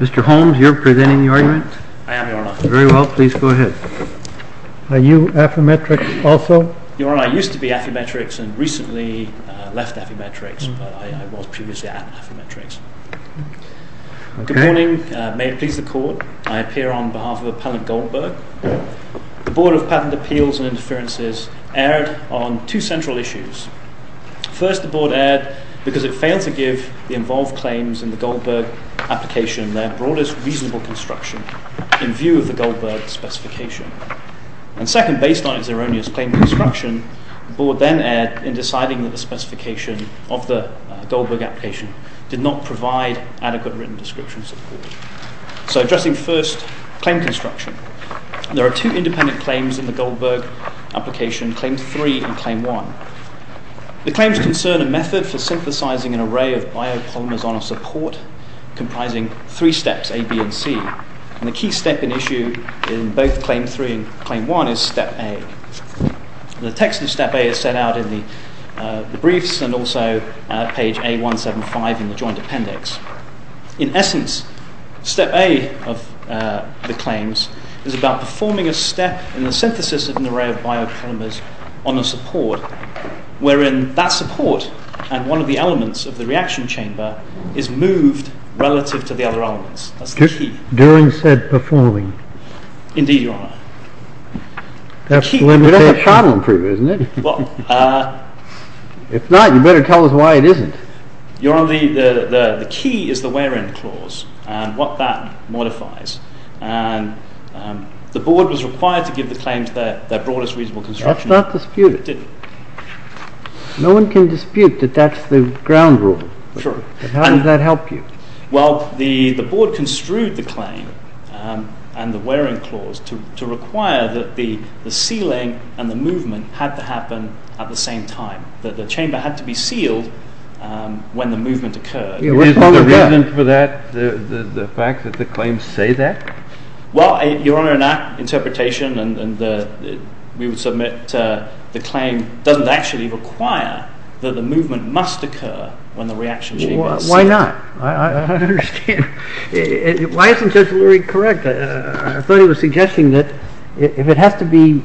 Mr. Holmes, you are presenting the argument? I am, Your Honor. Very well, please go ahead. Are you Affymetrix also? Your Honor, I used to be Affymetrix and recently left Affymetrix, but I was previously at Affymetrix. Good morning. May it please the Court, I appear on behalf of Appellant Goldberg. The Board of Patent Appeals and Interferences erred on two central issues. First, the Board erred because it failed to give the involved claims in the Goldberg application their broadest reasonable construction in view of the Goldberg specification. Second, based on its erroneous claim construction, the Board then erred in deciding that the specification of the Goldberg application did not provide adequate written description support. So, addressing first claim construction, there are two independent claims in the Goldberg application, Claim 3 and Claim 1. The claims concern a method for synthesizing an array of biopolymers on a support comprising three steps, A, B and C. The key step in issue in both Claim 3 and Claim 1 is Step A. The text of Step A is set out in the briefs and also page A175 in the Joint Appendix. In essence, Step A of the claims is about performing a step in the synthesis of an array of biopolymers on a support wherein that support and one of the elements of the reaction chamber is moved relative to the other elements. That's the key. During said performing. Indeed, Your Honour. That's the limitation. We don't have problem proof, isn't it? If not, you better tell us why it isn't. Your Honour, the key is the where-in clause and what that modifies. The Board was required to give the claims their broadest reasonable construction. That's not disputed. It didn't. No one can dispute that that's the ground rule. Sure. How did that help you? Well, the Board construed the claim and the where-in clause to require that the sealing and the movement had to happen at the same time. That the chamber had to be sealed when the movement occurred. Is the reason for that the fact that the claims say that? Well, Your Honour, in that interpretation, we would submit the claim doesn't actually require that the movement must occur when the reaction chamber is sealed. Why not? I don't understand. Why isn't Judge Lurie correct? I thought he was suggesting that if it has to be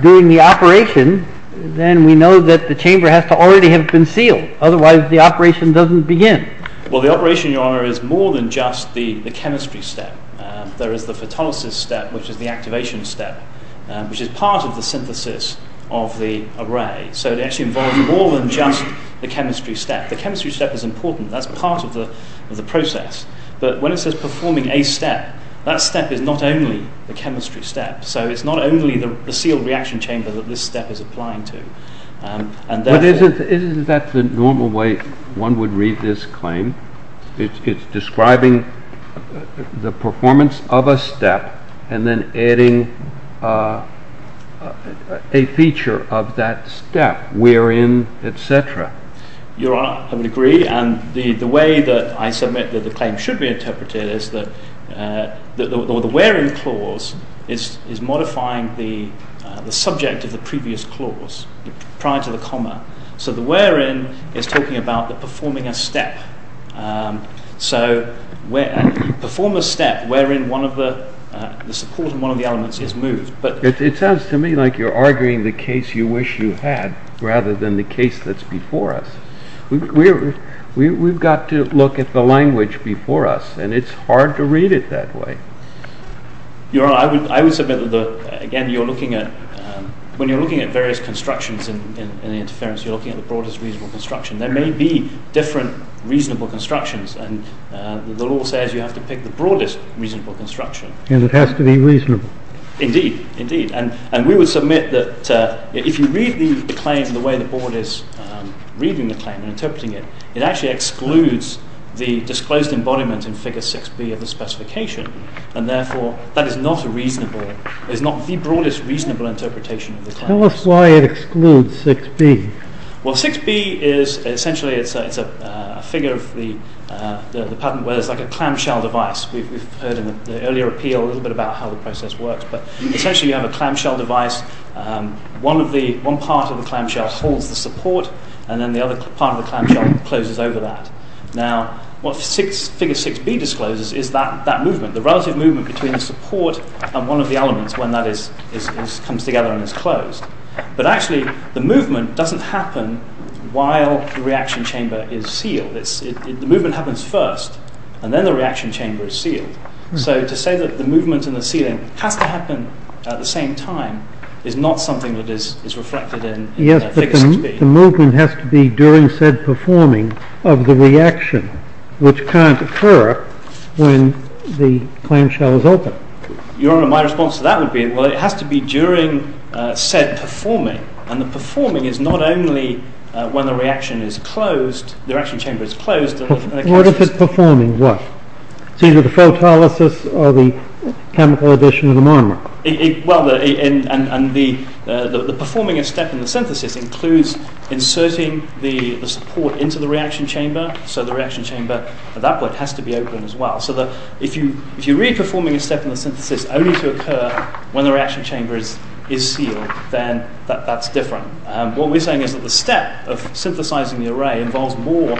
during the operation, then we know that the chamber has to already have been sealed. Otherwise, the operation doesn't begin. Well, the operation, Your Honour, is more than just the chemistry step. There is the photolysis step, which is the activation step, which is part of the synthesis of the array. So it actually involves more than just the chemistry step. The chemistry step is important. That's part of the process. But when it says performing a step, that step is not only the chemistry step. So it's not only the sealed reaction chamber that this step is applying to. Isn't that the normal way one would read this claim? It's describing the performance of a step and then adding a feature of that step, where-in, etc. Your Honour, I would agree. And the way that I submit that the claim should be interpreted is that the where-in clause is modifying the subject of the previous clause prior to the comma. So the where-in is talking about the performing a step. So perform a step wherein one of the support and one of the elements is moved. It sounds to me like you're arguing the case you wish you had, rather than the case that's before us. We've got to look at the language before us, and it's hard to read it that way. Your Honour, I would submit that, again, when you're looking at various constructions in the interference, you're looking at the broadest reasonable construction. There may be different reasonable constructions, and the law says you have to pick the broadest reasonable construction. And it has to be reasonable. Indeed. Indeed. And we would submit that if you read the claims in the way the Board is reading the claim and interpreting it, it actually excludes the disclosed embodiment in Figure 6b of the specification, and therefore that is not reasonable. It is not the broadest reasonable interpretation of the claim. Tell us why it excludes 6b. Well, 6b is essentially a figure of the patent where it's like a clamshell device. We've heard in the earlier appeal a little bit about how the process works, but essentially you have a clamshell device. One part of the clamshell holds the support, and then the other part of the clamshell closes over that. Now, what Figure 6b discloses is that movement, the relative movement between the support and one of the elements when that comes together and is closed. But actually, the movement doesn't happen while the reaction chamber is sealed. The movement happens first, and then the reaction chamber is sealed. So to say that the movement in the ceiling has to happen at the same time is not something that is reflected in Figure 6b. Yes, but the movement has to be during said performing of the reaction, which can't occur when the clamshell is open. Your Honor, my response to that would be, well, it has to be during said performing. And the performing is not only when the reaction chamber is closed. What if it's performing? What? It's either the photolysis or the chemical addition of the monomer. Well, the performing a step in the synthesis includes inserting the support into the reaction chamber, so the reaction chamber at that point has to be open as well. So that if you're really performing a step in the synthesis only to occur when the reaction chamber is sealed, then that's different. What we're saying is that the step of synthesizing the array involves more,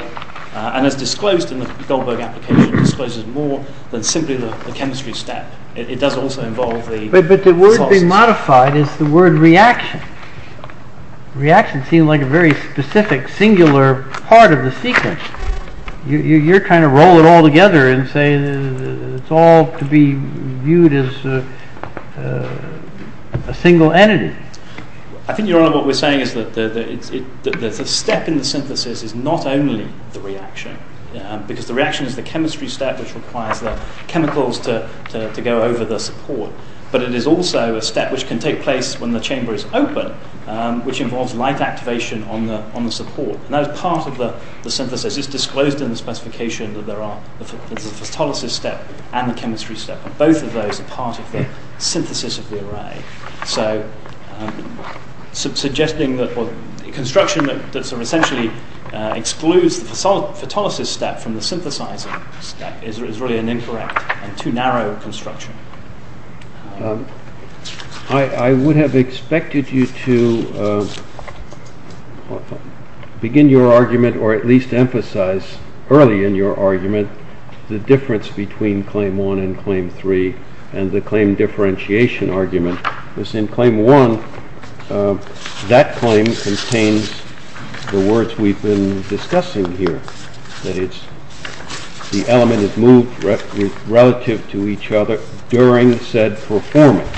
and as disclosed in the Goldberg application, discloses more than simply the chemistry step. It does also involve the… But the word being modified is the word reaction. Reaction seems like a very specific, singular part of the sequence. You're trying to roll it all together and say that it's all to be viewed as a single entity. I think, Your Honor, what we're saying is that the step in the synthesis is not only the reaction, because the reaction is the chemistry step which requires the chemicals to go over the support. But it is also a step which can take place when the chamber is open, which involves light activation on the support. And that is part of the synthesis. It's disclosed in the specification that there are the photolysis step and the chemistry step, but both of those are part of the synthesis of the array. So suggesting that construction that essentially excludes the photolysis step from the synthesizing step is really an incorrect and too narrow construction. I would have expected you to begin your argument or at least emphasize early in your argument the difference between Claim 1 and Claim 3 and the claim differentiation argument. Because in Claim 1, that claim contains the words we've been discussing here. That is, the element is moved relative to each other during said performance.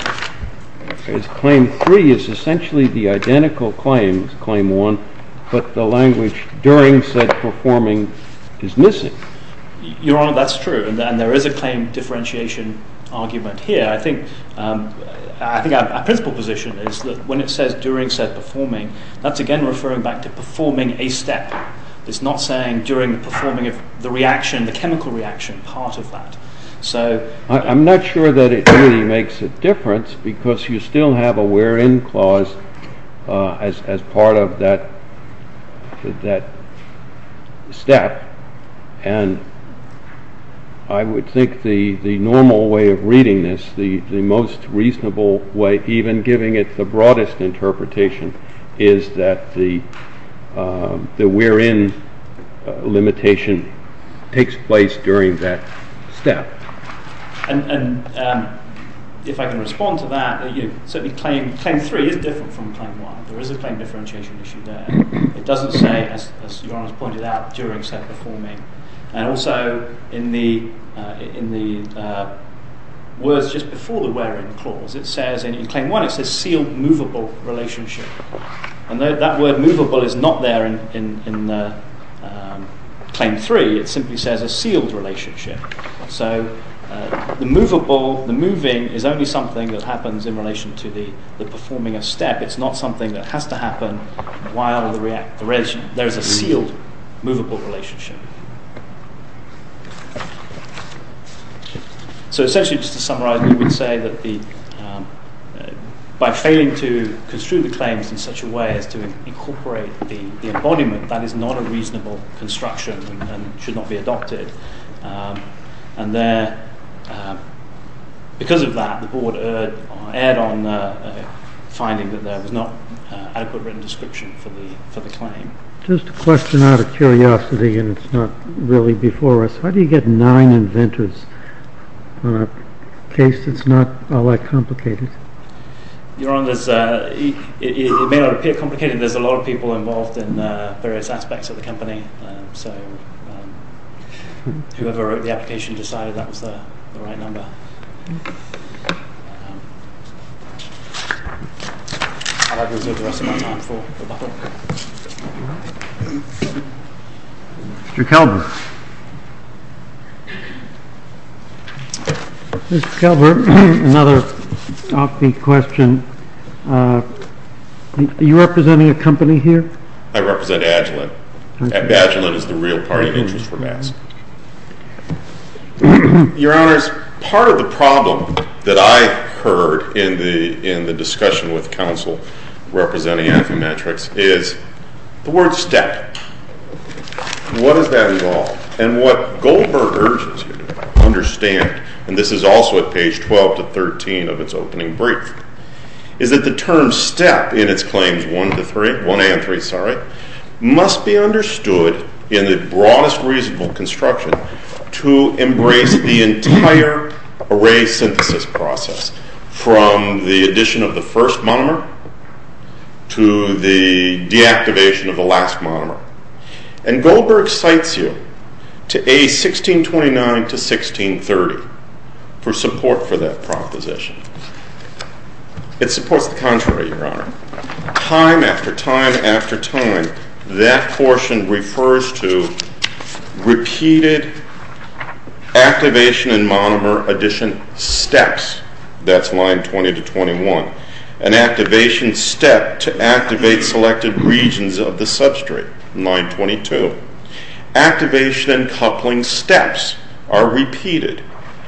Claim 3 is essentially the identical claim as Claim 1, but the language during said performing is missing. Your Honor, that's true. And there is a claim differentiation argument here. I think our principal position is that when it says during said performing, that's again referring back to performing a step. It's not saying during the performing of the reaction, the chemical reaction, part of that. I'm not sure that it really makes a difference because you still have a where-in clause as part of that step. And I would think the normal way of reading this, the most reasonable way, even giving it the broadest interpretation, is that the where-in limitation takes place during that step. And if I can respond to that, Claim 3 is different from Claim 1. There is a claim differentiation issue there. It doesn't say, as Your Honor has pointed out, during said performing. And also, in the words just before the where-in clause, it says in Claim 1, it says sealed movable relationship. And that word movable is not there in Claim 3. It simply says a sealed relationship. So, the movable, the moving, is only something that happens in relation to the performing of step. It's not something that has to happen while there is a sealed movable relationship. So, essentially, just to summarize, we would say that by failing to construe the claims in such a way as to incorporate the embodiment, that is not a reasonable construction and should not be adopted. And there, because of that, the Board erred on finding that there was not adequate written description for the claim. Just a question out of curiosity, and it's not really before us. How do you get nine inventors on a case that's not all that complicated? Your Honor, it may appear complicated. There's a lot of people involved in various aspects of the company. So, whoever wrote the application decided that was the right number. Mr. Kelber. Mr. Kelber, another offbeat question. Are you representing a company here? I represent Agilent. Agilent is the real party of interest for BASC. Your Honor, part of the problem that I heard in the discussion with counsel representing Affymetrix is the word step. What does that involve? And what Goldberg urges you to understand, and this is also at page 12 to 13 of its opening brief, is that the term step in its claims 1 and 3 must be understood in the broadest reasonable construction to embrace the entire array synthesis process from the addition of the first monomer to the deactivation of the last monomer. And Goldberg cites you to A1629 to 1630 for support for that proposition. It supports the contrary, Your Honor. Time after time after time, that portion refers to repeated activation and monomer addition steps. That's line 20 to 21. An activation step to activate selected regions of the substrate, line 22. Activation and coupling steps are repeated,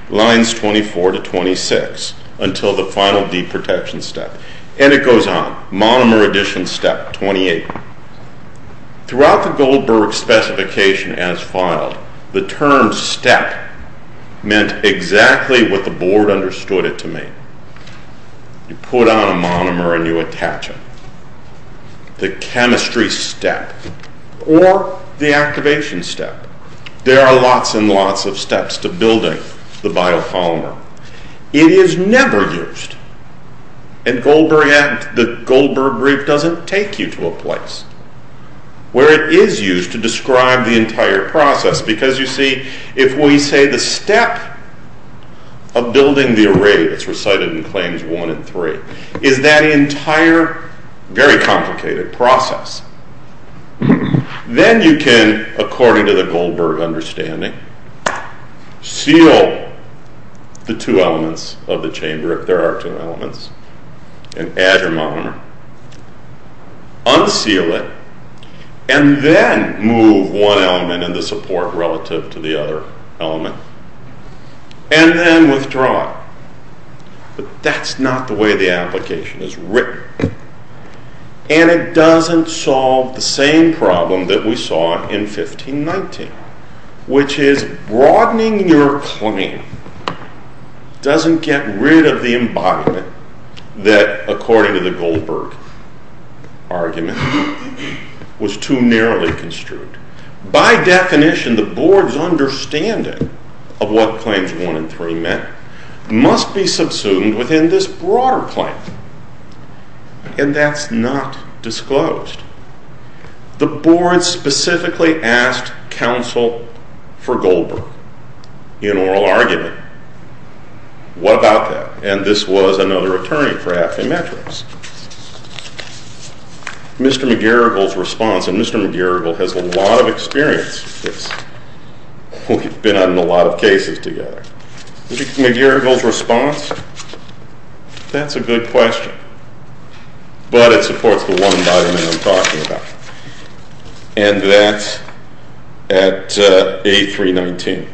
lines 24 to 26, until the final deprotection step. And it goes on. Monomer addition step 28. Throughout the Goldberg specification as filed, the term step meant exactly what the board understood it to mean. You put on a monomer and you attach it. The chemistry step or the activation step. There are lots and lots of steps to building the biopolymer. It is never used, and the Goldberg brief doesn't take you to a place where it is used to describe the entire process. Because, you see, if we say the step of building the array that's recited in Claims 1 and 3 is that entire, very complicated process. Then you can, according to the Goldberg understanding, seal the two elements of the chamber, if there are two elements, and add your monomer. Unseal it, and then move one element in the support relative to the other element. And then withdraw it. But that's not the way the application is written. And it doesn't solve the same problem that we saw in 1519. Which is broadening your claim doesn't get rid of the embodiment that, according to the Goldberg argument, was too narrowly construed. By definition, the board's understanding of what Claims 1 and 3 meant must be subsumed within this broader claim. And that's not disclosed. The board specifically asked counsel for Goldberg in oral argument. What about that? And this was another attorney for Affymetrix. Mr. McGarrigle's response, and Mr. McGarrigle has a lot of experience with this. We've been on a lot of cases together. McGarrigle's response, that's a good question. But it supports the one document I'm talking about. And that's at A319.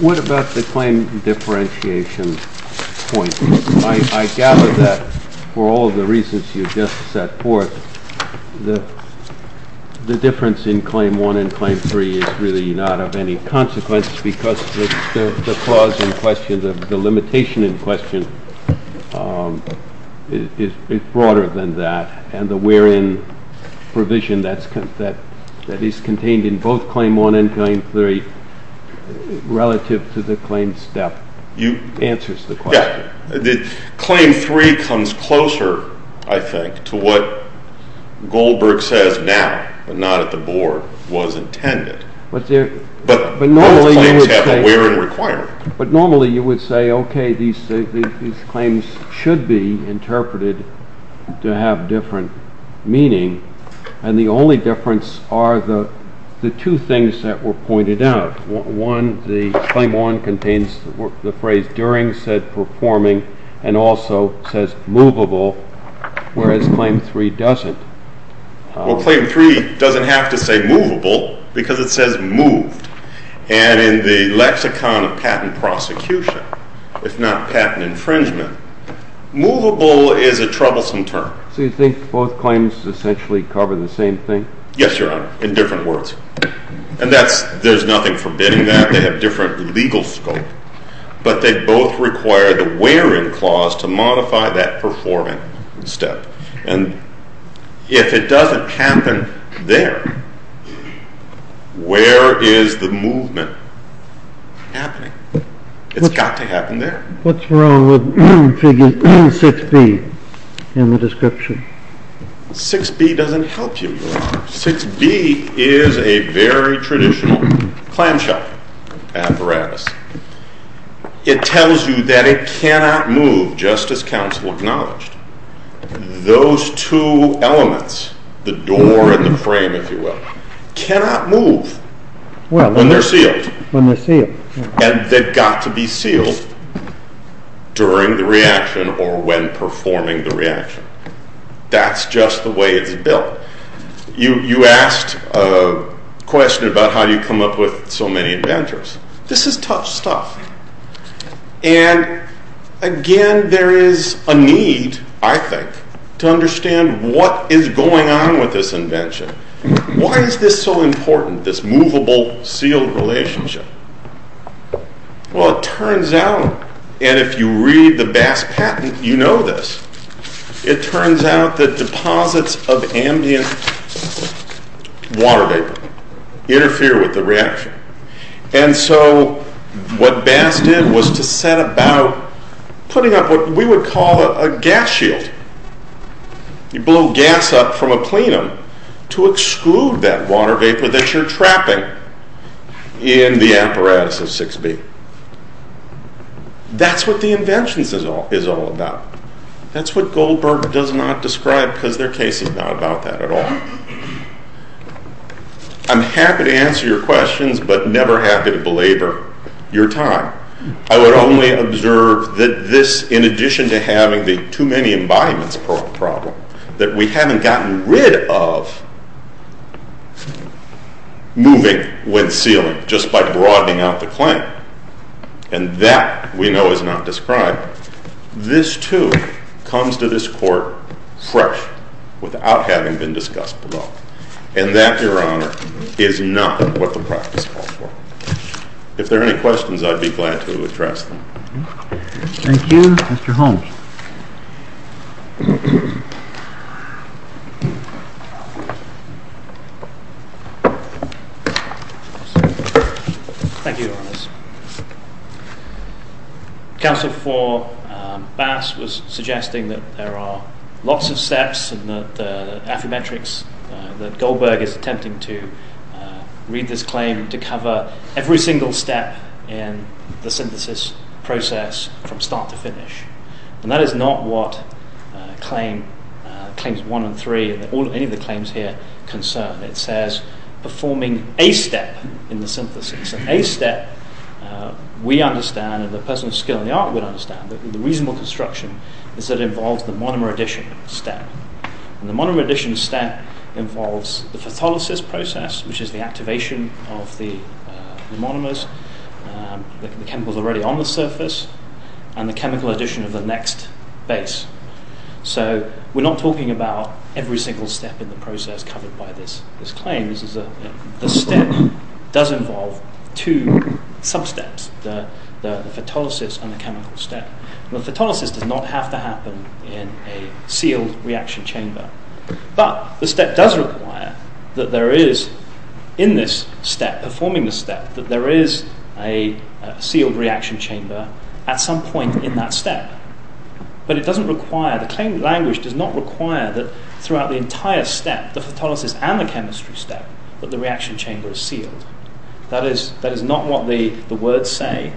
What about the claim differentiation point? I gather that for all the reasons you just set forth, the difference in Claim 1 and Claim 3 is really not of any consequence. Because the limitation in question is broader than that. And the wherein provision that is contained in both Claim 1 and Claim 3 relative to the claim step answers the question. Claim 3 comes closer, I think, to what Goldberg says now, but not at the board, was intended. But both claims have a wherein requirement. But normally you would say, okay, these claims should be interpreted to have different meaning. And the only difference are the two things that were pointed out. One, Claim 1 contains the phrase during said performing and also says movable, whereas Claim 3 doesn't. Well, Claim 3 doesn't have to say movable because it says moved. And in the lexicon of patent prosecution, if not patent infringement, movable is a troublesome term. So you think both claims essentially cover the same thing? Yes, Your Honor, in different words. And there's nothing forbidding that. They have different legal scope. But they both require the wherein clause to modify that performing step. And if it doesn't happen there, where is the movement happening? It's got to happen there. What's wrong with figure 6B in the description? 6B doesn't help you, Your Honor. 6B is a very traditional clamshell apparatus. It tells you that it cannot move, just as counsel acknowledged. Those two elements, the door and the frame, if you will, cannot move when they're sealed. And they've got to be sealed during the reaction or when performing the reaction. That's just the way it's built. You asked a question about how you come up with so many inventors. This is tough stuff. And, again, there is a need, I think, to understand what is going on with this invention. Why is this so important, this movable-sealed relationship? Well, it turns out, and if you read the Bass patent, you know this, it turns out that deposits of ambient water vapor interfere with the reaction. And so what Bass did was to set about putting up what we would call a gas shield. You blow gas up from a plenum to exclude that water vapor that you're trapping in the apparatus of 6B. That's what the invention is all about. That's what Goldberg does not describe because their case is not about that at all. I'm happy to answer your questions but never happy to belabor your time. I would only observe that this, in addition to having the too-many-embodiments problem, that we haven't gotten rid of moving when sealing just by broadening out the claim, and that, we know, is not described. This, too, comes to this Court fresh without having been discussed at all. And that, Your Honor, is not what the practice calls for. If there are any questions, I'd be glad to address them. Thank you. Mr. Holmes. Thank you, Your Honors. Counsel for Bass was suggesting that there are lots of steps in the Affymetrix that Goldberg is attempting to read this claim to cover every single step in the synthesis process from start to finish. And that is not what Claims 1 and 3, or any of the claims here, concern. It says, performing a step in the synthesis. And a step, we understand, and the person with skill in the art would understand, the reasonable construction is that it involves the monomer addition step. And the monomer addition step involves the phytholysis process, which is the activation of the monomers, the chemicals already on the surface, and the chemical addition of the next base. So we're not talking about every single step in the process covered by this claim. This step does involve two sub-steps, the phytholysis and the chemical step. The phytholysis does not have to happen in a sealed reaction chamber. But the step does require that there is, in this step, performing the step, that there is a sealed reaction chamber at some point in that step. But it doesn't require, the claim language does not require that throughout the entire step, the phytholysis and the chemistry step, that the reaction chamber is sealed. That is not what the words say.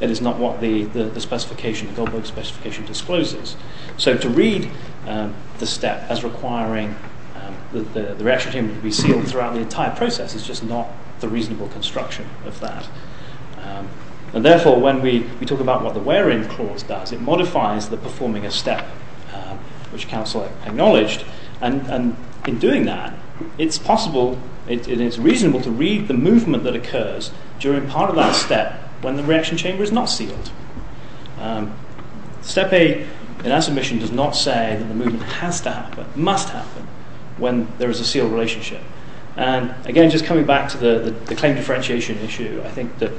That is not what the specification, the Goldberg specification discloses. So to read the step as requiring the reaction chamber to be sealed throughout the entire process is just not the reasonable construction of that. And therefore, when we talk about what the wearing clause does, it modifies the performing a step, which counsel acknowledged. And in doing that, it's possible, it is reasonable to read the movement that occurs during part of that step when the reaction chamber is not sealed. Step A in our submission does not say that the movement has to happen, must happen, when there is a sealed relationship. And again, just coming back to the claim differentiation issue, I think that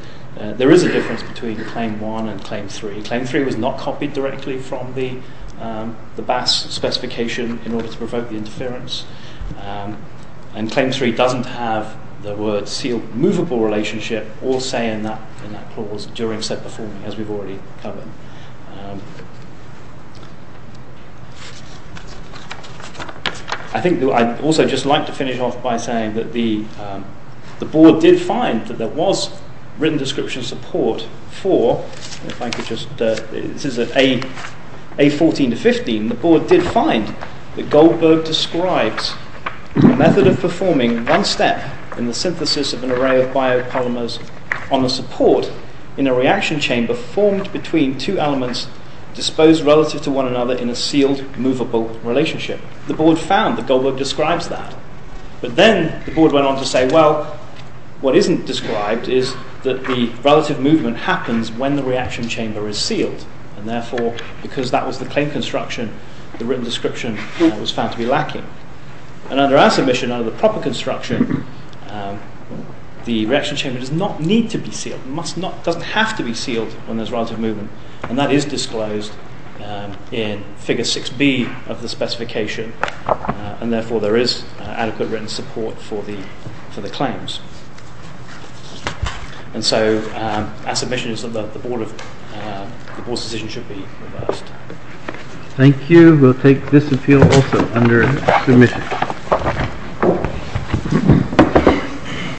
there is a difference between Claim 1 and Claim 3. Claim 3 was not copied directly from the BAS specification in order to provoke the interference. And Claim 3 doesn't have the word sealed movable relationship or say in that clause during step performing, as we've already covered. I think that I'd also just like to finish off by saying that the board did find that there was written description support for, if I could just, this is A14 to 15. The board did find that Goldberg describes the method of performing one step in the synthesis of an array of biopolymers on the support in a reaction chamber formed between two elements disposed relative to one another in a sealed movable relationship. The board found that Goldberg describes that. But then the board went on to say, well, what isn't described is that the relative movement happens when the reaction chamber is sealed. And therefore, because that was the claim construction, the written description was found to be lacking. And under our submission, under the proper construction, the reaction chamber does not need to be sealed, it doesn't have to be sealed when there's relative movement. And that is disclosed in Figure 6B of the specification. And therefore, there is adequate written support for the claims. And so, our submission is that the board's decision should be reversed. Thank you. We'll take this appeal also under submission.